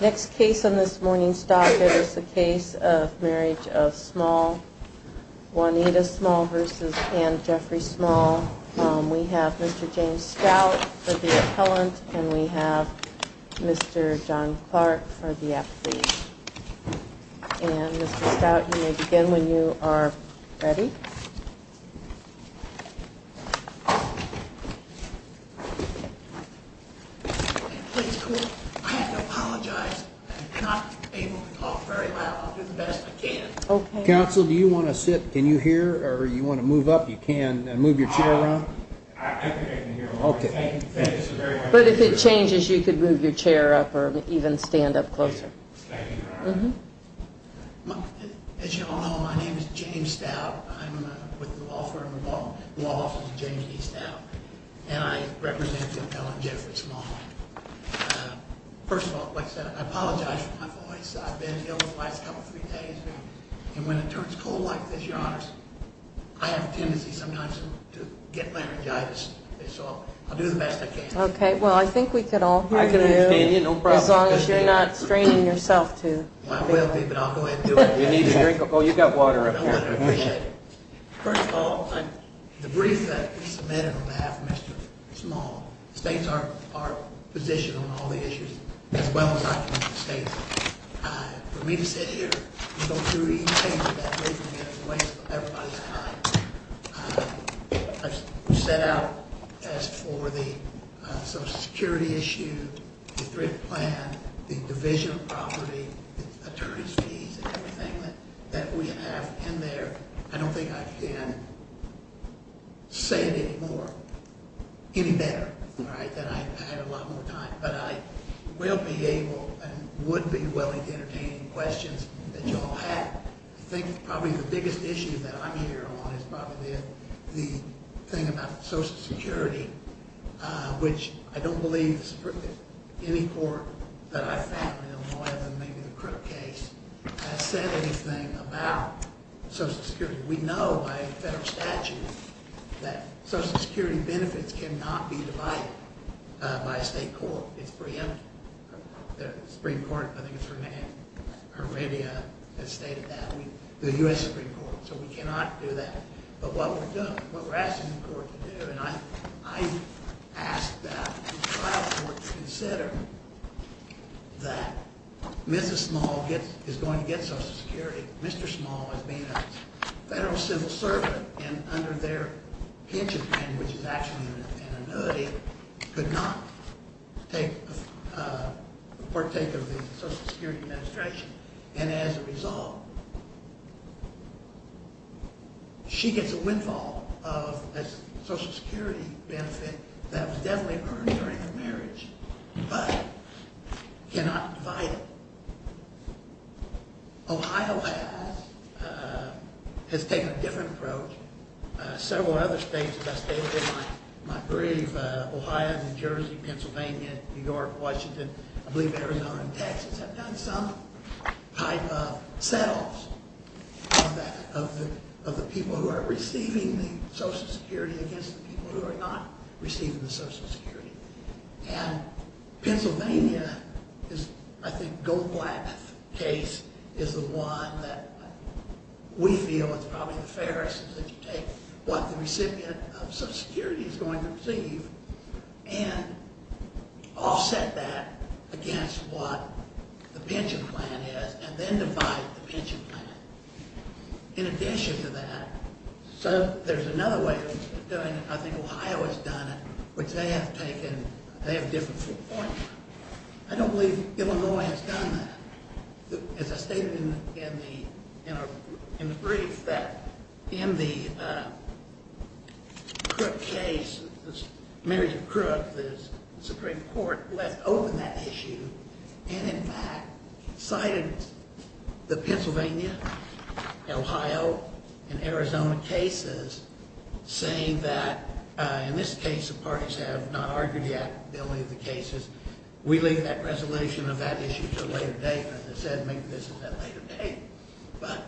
Next case on this morning's stock is a case of Marriage of Small Juanita Small versus Anne Jeffrey Small. We have Mr. James Stout for the appellant and we have Mr. John Clark for the applicant. And Mr. Stout you may begin when you are ready. Council do you want to sit can you hear or you want to move up you can move your chair around? But if it changes you could move your chair up or even stand up As you all know my name is James Stout I'm with the law firm law office of James E. Stout and I represent the appellant Jennifer Small. First of all like I said I apologize for my voice I've been ill for the last couple three days and when it turns cold like this your honors I have a tendency sometimes to get laryngitis so I'll do the best I can. Okay well I think we can all hear you as long as you're not straining yourself too. I will be but I'll go ahead and do it. First of all the brief that we submitted on behalf of Mr. Small the states are positioned on all the issues as well as I can in the states. For me to sit here and go through each page of that briefing is a waste of everybody's time. I've set out as for the social security issue, the threat plan, the division of property, the attorneys fees and everything that we have in there I don't think I can say it any more, any better than I had a lot more time. But I will be able and would be willing to entertain questions that you all have. I think probably the biggest issue that I'm here on is probably the thing about social security which I don't believe any court that I've found in Illinois other than maybe the criminal case has ever had a case like that. I don't think the criminal case has said anything about social security. We know by federal statute that social security benefits cannot be divided by a state court. It's preempted. The Supreme Court, I think it's Heredia, has stated that. The U.S. Supreme Court. So we cannot do that. But what we're doing, what we're asking the court to do, and I ask that the trial court consider that Mrs. Small is going to get social security. Mr. Small has been a federal civil servant and under their pension plan which is actually an annuity could not partake of the social security administration. And as a result, she gets a windfall of a social security benefit that was definitely earned during her marriage but cannot divide it. Ohio has taken a different approach. Several other states as I stated in my brief, Ohio, New Jersey, Pennsylvania, New York, Washington, I believe Arizona and Texas have done some. They've done some type of set-offs of the people who are receiving the social security against the people who are not receiving the social security. And Pennsylvania, I think the Goldblatt case is the one that we feel is probably the fairest if you take what the recipient of social security is going to receive and offset that against what the pension plan is. And then divide the pension plan. In addition to that, so there's another way of doing it, I think Ohio has done it, which they have taken, they have a different viewpoint. I don't believe Illinois has done that. As I stated in the brief that in the Crook case, the marriage of Crook, the Supreme Court left open that issue and in fact cited the Pennsylvania, Ohio and Arizona cases saying that in this case the parties have not argued yet. But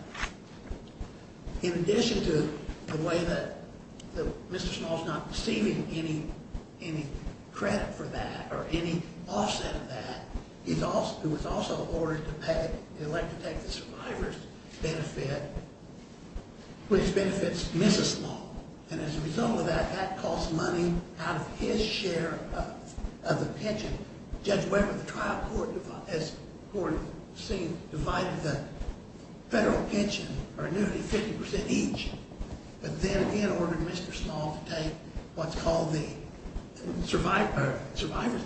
in addition to the way that Mr. Small is not receiving any credit for that or any offset of that, it was also ordered to pay the elected to take the survivor's benefit, which benefits Mrs. Small. And as a result of that, that costs money out of his share of the pension. Judge Weber, the trial court, as court has seen, divided the federal pension or annuity 50% each. But then again ordered Mr. Small to take what's called the survivor's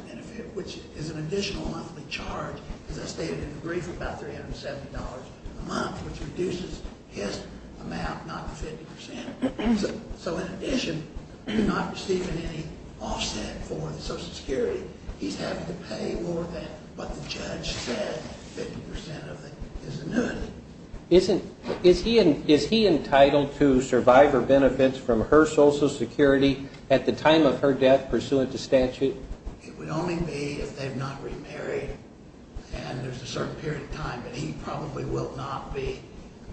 benefit, which is an additional monthly charge, as I stated in the brief, about $370 a month, which reduces his amount, not the 50%. So in addition to not receiving any offset for the social security, he's having to pay more than what the judge said, 50% of his annuity. Is he entitled to survivor benefits from her social security at the time of her death pursuant to statute? It would only be if they've not remarried and there's a certain period of time, but he probably will not be.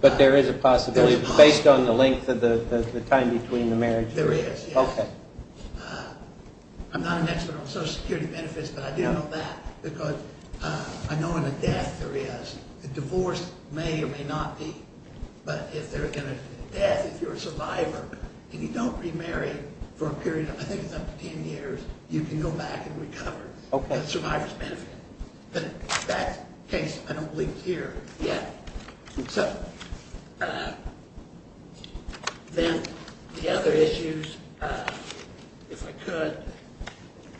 But there is a possibility based on the length of the time between the marriage? There is. Okay. I'm not an expert on social security benefits, but I do know that because I know in a death there is. A divorce may or may not be. But if they're in a death, if you're a survivor and you don't remarry for a period of, I think it's up to 10 years, you can go back and recover the survivor's benefit. But that case I don't believe is here yet. So then the other issues, if I could.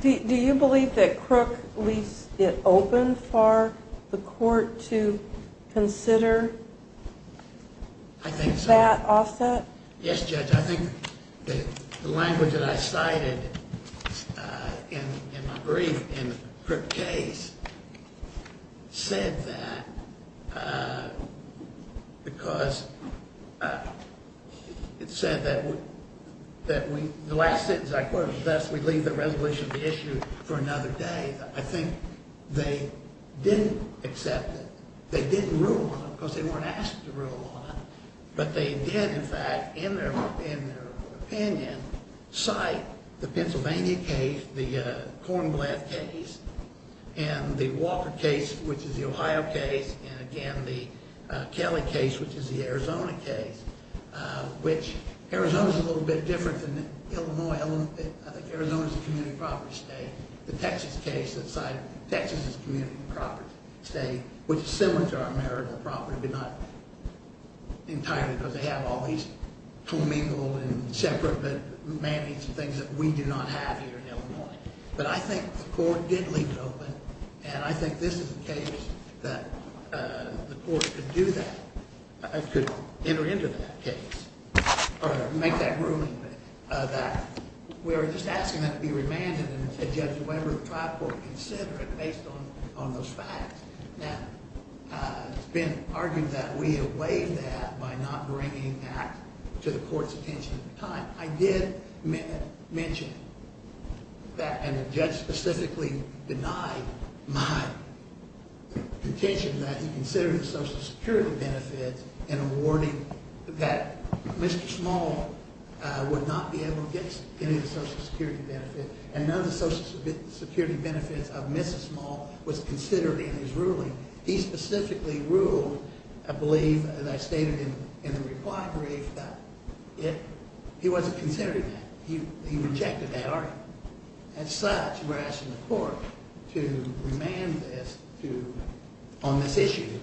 Do you believe that Crook leaves it open for the court to consider that offset? Yes, Judge. I think the language that I cited in my brief in the Crook case said that because it said that the last sentence I quoted, thus we leave the resolution of the issue for another day. I think they didn't accept it. They didn't rule on it because they weren't asked to rule on it. But they did, in fact, in their opinion, cite the Pennsylvania case, the Cornblatt case, and the Walker case, which is the Ohio case, and again the Kelly case, which is the Arizona case, which Arizona is a little bit different than Illinois. I think Arizona is a community property state. The Texas case that cited Texas as a community property state, which is similar to our marital property, but not entirely because they have all these commingle and separate man-eats and things that we do not have here in Illinois. But I think the court did leave it open, and I think this is a case that the court could do that, I could enter into that case or make that ruling that we were just asking that it be remanded and said, Judge, the member of the trial court consider it based on those facts. Now, it's been argued that we have waived that by not bringing that to the court's attention at the time. I did mention that, and the judge specifically denied my contention that he considered the Social Security benefits in awarding that Mr. Small would not be able to get any of the Social Security benefits, and none of the Social Security benefits of Mrs. Small was considered in his ruling. He specifically ruled, I believe, as I stated in the reply brief, that he wasn't considering that. He rejected that argument. As such, we're asking the court to remand this on this issue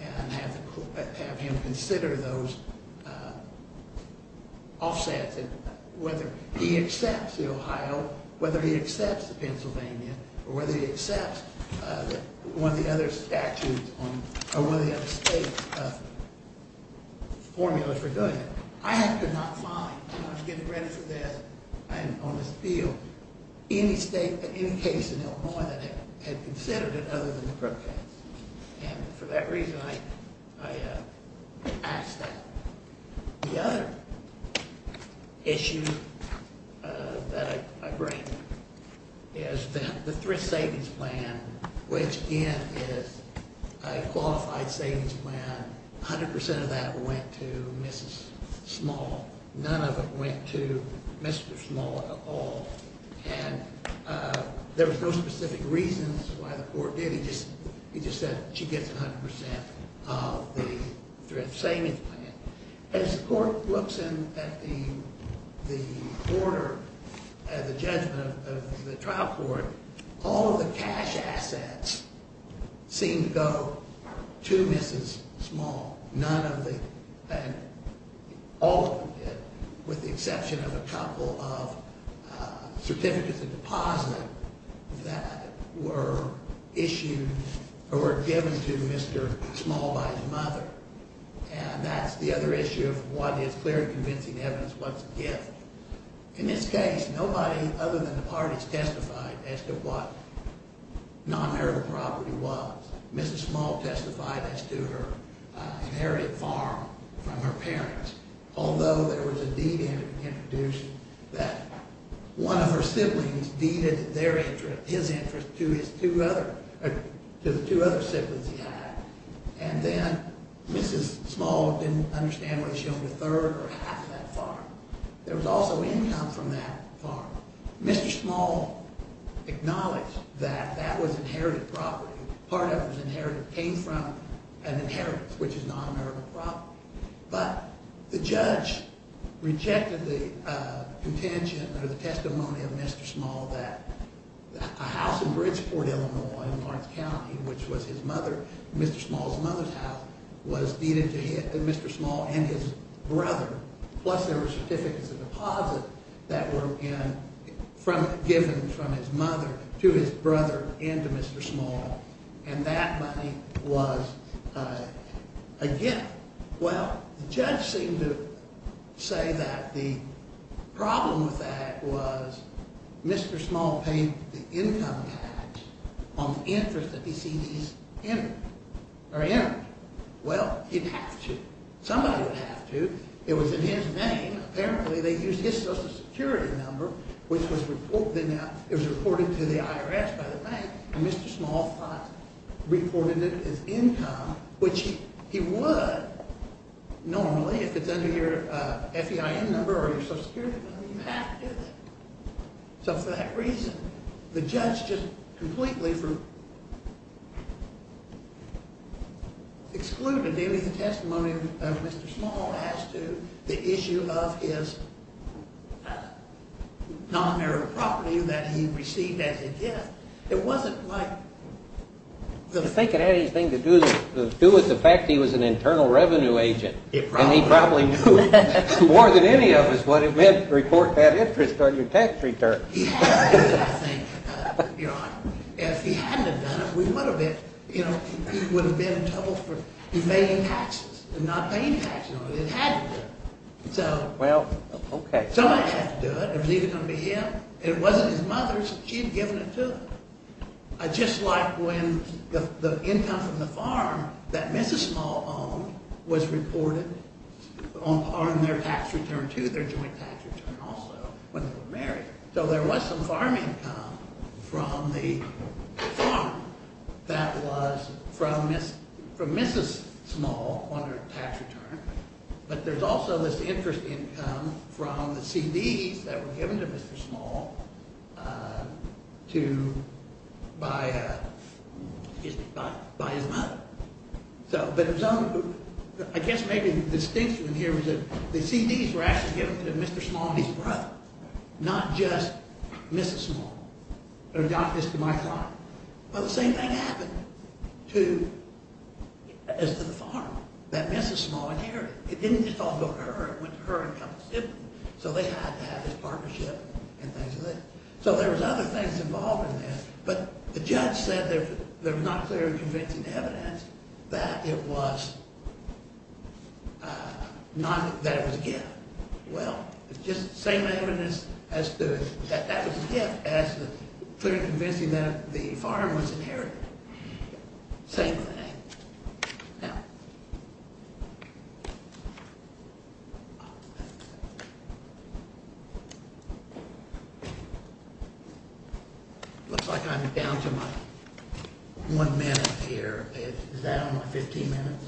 and have him consider those offsets, and whether he accepts the Ohio, whether he accepts the Pennsylvania, or whether he accepts one of the other statutes or one of the other states' formulas for go-ahead. I have to not find, and I'm getting ready for death on this appeal, any state, any case in Illinois that had considered it other than the protest. And for that reason, I ask that. The other issue that I bring is the thrift savings plan, which, again, is a qualified savings plan. A hundred percent of that went to Mrs. Small. None of it went to Mr. Small at all, and there was no specific reasons why the court did it. He just said she gets a hundred percent of the thrift savings plan. As the court looks at the order, at the judgment of the trial court, all of the cash assets seem to go to Mrs. Small. None of it, all of it, with the exception of a couple of certificates of deposit that were issued or were given to Mr. Small by his mother. And that's the other issue of what is clear and convincing evidence, what's a gift. In this case, nobody other than the parties testified as to what non-marital property was. Mrs. Small testified as to her inherited farm from her parents, although there was a deed introduced that one of her siblings deeded his interest to the two other siblings he had. And then Mrs. Small didn't understand whether she owned a third or half of that farm. There was also income from that farm. Mr. Small acknowledged that that was inherited property. Part of it was inherited, came from an inheritance, which is non-marital property. But the judge rejected the contention or the testimony of Mr. Small that a house in Bridgeport, Illinois, in Lawrence County, which was his mother, Mr. Small's mother's house, was deeded to Mr. Small and his brother. Plus there were certificates of deposit that were given from his mother to his brother and to Mr. Small. And that money was a gift. Well, the judge seemed to say that the problem with that was Mr. Small paid the income tax on the interest that he sees as in it. Well, he'd have to. Somebody would have to. It was in his name. Apparently they used his Social Security number, which was reported to the IRS by the bank, and Mr. Small thought reported it as income, which he would normally if it's under your FEIN number or your Social Security number. You have to do that. So for that reason, the judge just completely excluded any of the testimony of Mr. Small as to the issue of his non-marital property that he received as a gift. It wasn't quite the thing. I think it had anything to do with the fact he was an internal revenue agent. It probably was. More than any of us would have meant to report that interest on your tax return. He had to, I think, Your Honor. If he hadn't have done it, we would have been in trouble for paying taxes and not paying taxes on it. It had to do it. Well, okay. Somebody had to do it. It was either going to be him. It wasn't his mother's. She had given it to him. Just like when the income from the farm that Mrs. Small owned was reported on their tax return to their joint tax return also when they were married. So there was some farm income from the farm that was from Mrs. Small on her tax return. But there's also this interest income from the CDs that were given to Mr. Small by his mother. So I guess maybe the distinction here is that the CDs were actually given to Mr. Small and his brother, not just Mrs. Small. It was not just to my father. But the same thing happened as to the farm that Mrs. Small inherited. It didn't just all go to her. It went to her income. So they had to have this partnership and things like that. So there was other things involved in this. But the judge said they were not clear in convincing evidence that it was a gift. Well, just the same evidence as to that that was a gift as to clear in convincing that the farm was inherited. Same thing. Now, looks like I'm down to my one minute here. Is that on my 15 minutes?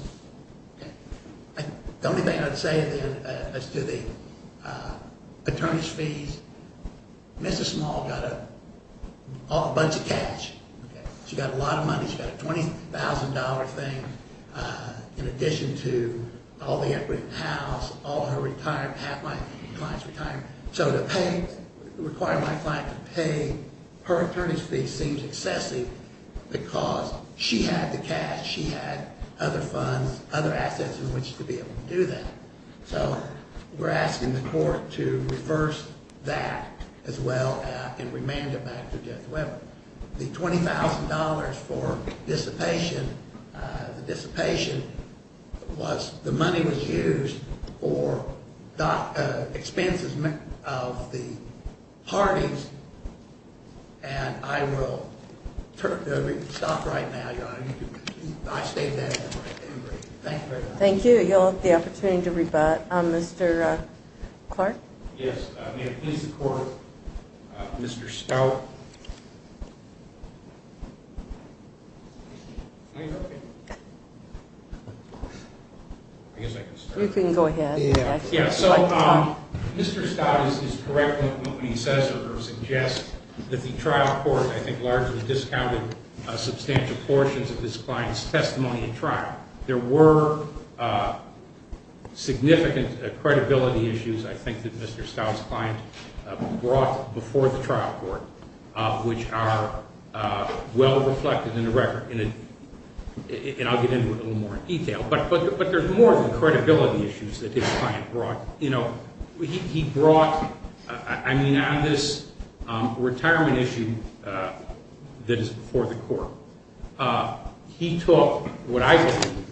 The only thing I'd say then as to the attorney's fees, Mrs. Small got a bunch of cash. She got a lot of money. She got a $20,000 thing in addition to all the equity in the house, all her retirement, half my client's retirement. So to require my client to pay her attorney's fees seems excessive because she had the cash. She had other funds, other assets in which to be able to do that. So we're asking the court to reverse that as well and remand it back to Judge Webber. The $20,000 for dissipation, the dissipation was the money was used for expenses of the parties. And I will stop right now, Your Honor. I state that in the record. Thank you very much. Thank you. You'll have the opportunity to rebut. Mr. Clark? Yes. May it please the Court, Mr. Stout? You can go ahead. Yeah. So Mr. Stout is correct in what he says or suggests that the trial court, I think, largely discounted substantial portions of this client's testimony in trial. There were significant credibility issues, I think, that Mr. Stout's client brought before the trial court, which are well reflected in the record. And I'll get into it a little more in detail. But there's more than credibility issues that this client brought. You know, he brought, I mean, on this retirement issue that is before the court, he took what I think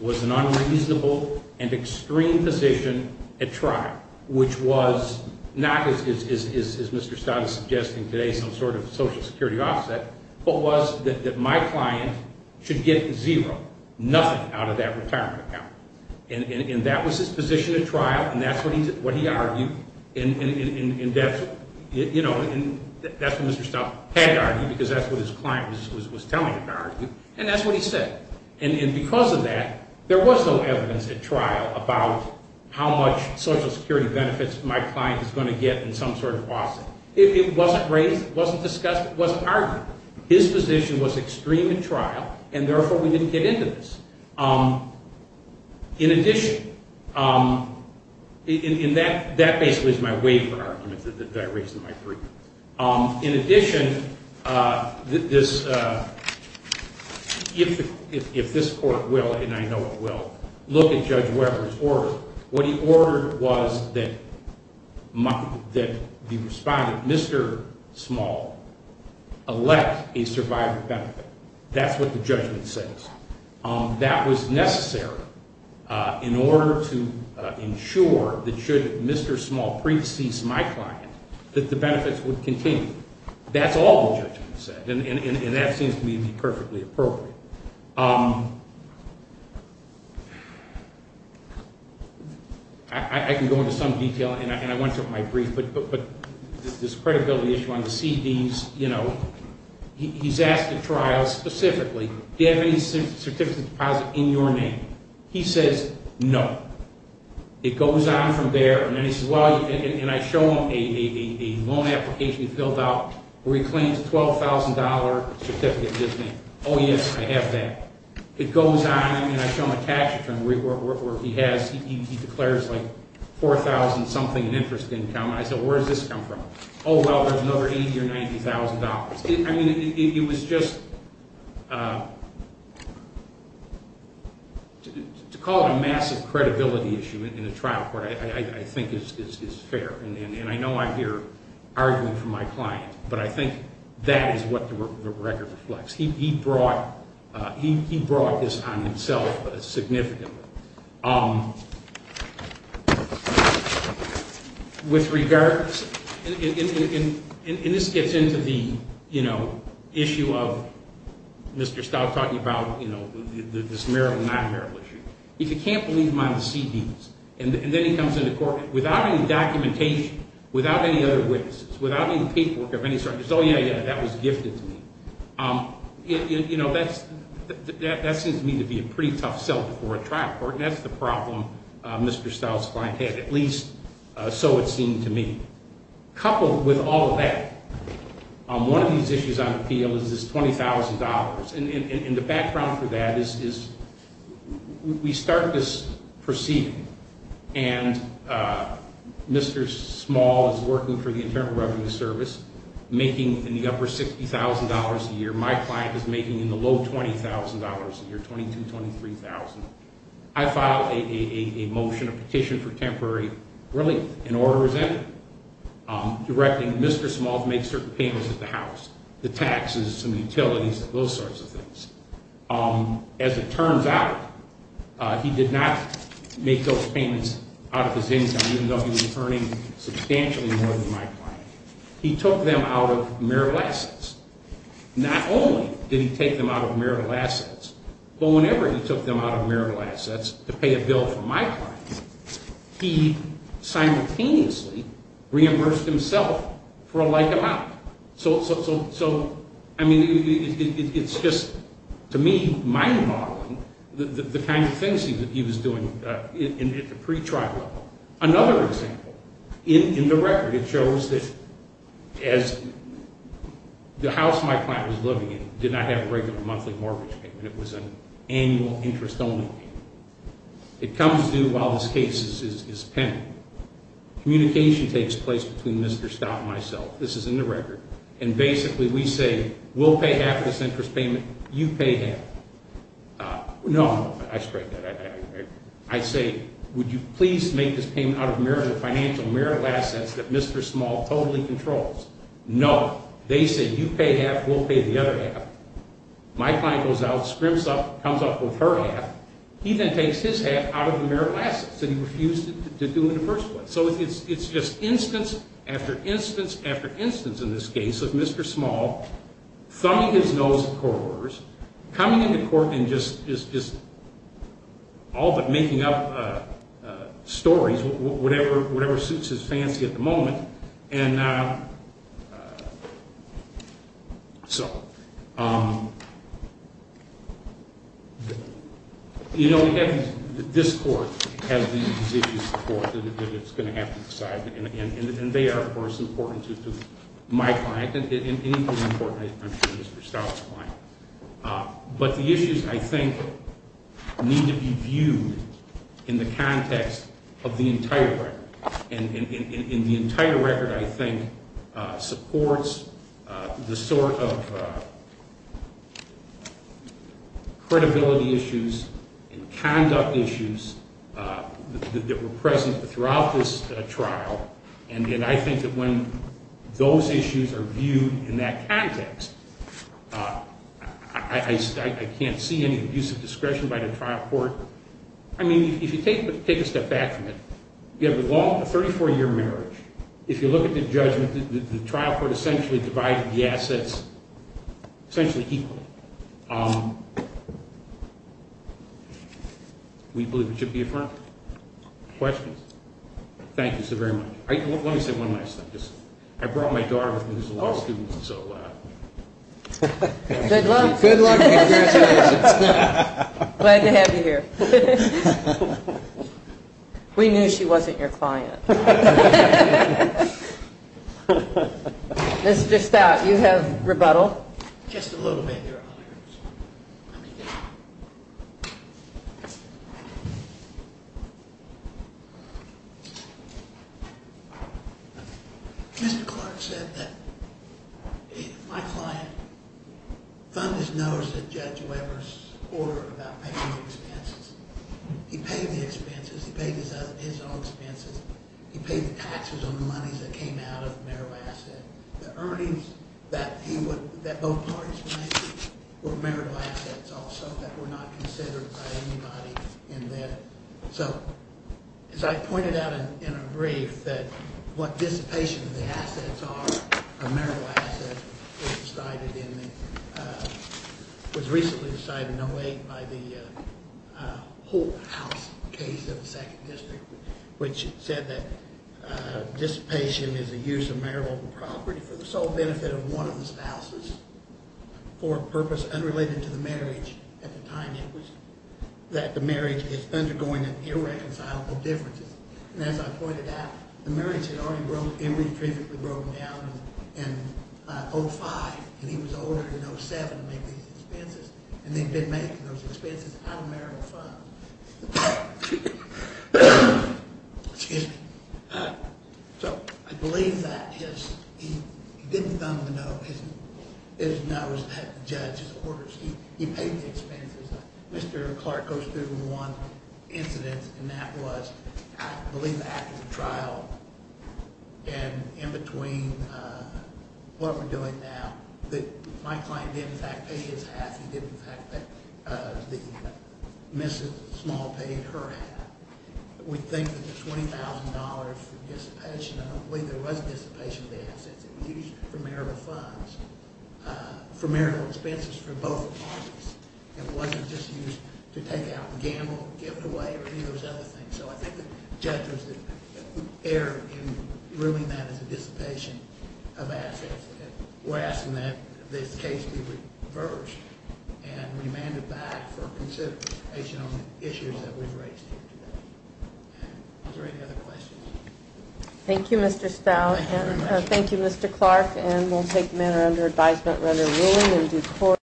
was an unreasonable and extreme position at trial, which was not, as Mr. Stout is suggesting today, some sort of Social Security offset, but was that my client should get zero, nothing out of that retirement account. And that was his position at trial, and that's what he argued. And that's what Mr. Stout had argued, because that's what his client was telling him to argue, and that's what he said. And because of that, there was no evidence at trial about how much Social Security benefits my client is going to get in some sort of offset. It wasn't raised, it wasn't discussed, it wasn't argued. His position was extreme at trial, and therefore we didn't get into this. In addition, and that basically is my waiver argument that I raised in my brief. In addition, if this court will, and I know it will, look at Judge Weber's order, what he ordered was that the respondent, Mr. Small, elect a survivor benefit. That's what the judgment says. That was necessary in order to ensure that should Mr. Small pre-seize my client, that the benefits would continue. That's all the judgment said, and that seems to me to be perfectly appropriate. I can go into some detail, and I went through my brief, but this credibility issue on the CDs, he's asked at trial specifically, do you have any certificate of deposit in your name? He says, no. It goes on from there, and then he says, well, and I show him a loan application he filled out where he claims a $12,000 certificate in his name. Oh, yes, I have that. It goes on, and I show him a tax return where he has, he declares like $4,000 something in interest income. I said, where does this come from? Oh, well, there's another $80,000 or $90,000. I mean, it was just, to call it a massive credibility issue in a trial court I think is fair, and I know I hear arguing from my client, but I think that is what the record reflects. He brought this on himself significantly. With regards, and this gets into the, you know, issue of Mr. Stout talking about, you know, this marital, non-marital issue. If you can't believe him on the CDs, and then he comes into court without any documentation, without any other witnesses, without any paperwork of any sort. He says, oh, yeah, yeah, that was gifted to me. You know, that seems to me to be a pretty tough sell before a trial court, and that's the problem Mr. Stout's client had, at least so it seemed to me. Coupled with all of that, one of these issues on appeal is this $20,000, and the background for that is we start this proceeding, and Mr. Small is working for the Internal Revenue Service making in the upper $60,000 a year. My client is making in the low $20,000 a year, $22,000, $23,000. I filed a motion, a petition for temporary relief, an order was entered directing Mr. Small to make certain payments at the house, the taxes and utilities, those sorts of things. As it turns out, he did not make those payments out of his income, even though he was earning substantially more than my client. He took them out of marital assets. Not only did he take them out of marital assets, but whenever he took them out of marital assets to pay a bill for my client, he simultaneously reimbursed himself for a like amount. So, I mean, it's just, to me, mind-boggling the kind of things he was doing at the pretrial level. Another example, in the record it shows that as the house my client was living in did not have a regular monthly mortgage payment, it was an annual interest-only payment. It comes due while this case is pending. Communication takes place between Mr. Stout and myself. This is in the record. And basically we say, we'll pay half of this interest payment, you pay half. No, I say, would you please make this payment out of marital assets that Mr. Small totally controls? No. They say, you pay half, we'll pay the other half. My client goes out, scrimps up, comes up with her half. He then takes his half out of the marital assets that he refused to do in the first place. So it's just instance after instance after instance in this case of Mr. Small thumbing his nose at court orders, coming into court and just all but making up stories, whatever suits his fancy at the moment. And so, you know, this court has these issues to support that it's going to have to decide. And they are, of course, important to my client and equally important, I'm sure, to Mr. Stout's client. But the issues, I think, need to be viewed in the context of the entire record. And the entire record, I think, supports the sort of credibility issues and conduct issues that were present throughout this trial. And I think that when those issues are viewed in that context, I can't see any abuse of discretion by the trial court. I mean, if you take a step back from it, you have a 34-year marriage. If you look at the judgment, the trial court essentially divided the assets essentially equally. We believe it should be affirmed. Questions? Thank you so very much. Let me say one last thing. I brought my daughter with me who's a law student. Good luck. Good luck and congratulations. Glad to have you here. We knew she wasn't your client. Mr. Stout, you have rebuttal. Just a little bit, Your Honor. Mr. Clark said that my client found his nose at Judge Weber's order about paying the expenses. He paid the expenses. He paid his own expenses. He paid the taxes on the monies that came out of Merrill Asset. The earnings that both parties made were Merrill Assets also that were not considered by anybody in there. So as I pointed out in a brief that what dissipation of the assets are of Merrill Assets was decided in the – was recently decided in 08 by the Holt House case of the Second District, which said that dissipation is a use of Merrill property for the sole benefit of one of the spouses for a purpose unrelated to the marriage. At the time, it was that the marriage is undergoing an irreconcilable difference. And as I pointed out, the marriage had already broken down in 05, and he was older than 07 to make these expenses, and they had been making those expenses out of Merrill funds. So I believe that he didn't thumb the nose at the judge's orders. He paid the expenses. Mr. Clark goes through one incident, and that was I believe after the trial and in between what we're doing now, that my client didn't, in fact, pay his half. He didn't, in fact, pay the – Mrs. Small paid her half. We think that the $20,000 for dissipation – I don't believe there was dissipation of the assets. It was used for Merrill funds, for Merrill expenses for both parties. It wasn't just used to take out the gamble, give it away, or any of those other things. So I think the judges err in ruling that as a dissipation of assets. We're asking that this case be reversed, and we demand it back for consideration on the issues that we've raised here today. Are there any other questions? Thank you, Mr. Stout, and thank you, Mr. Clark. And we'll take the matter under advisement rather willingly and do court.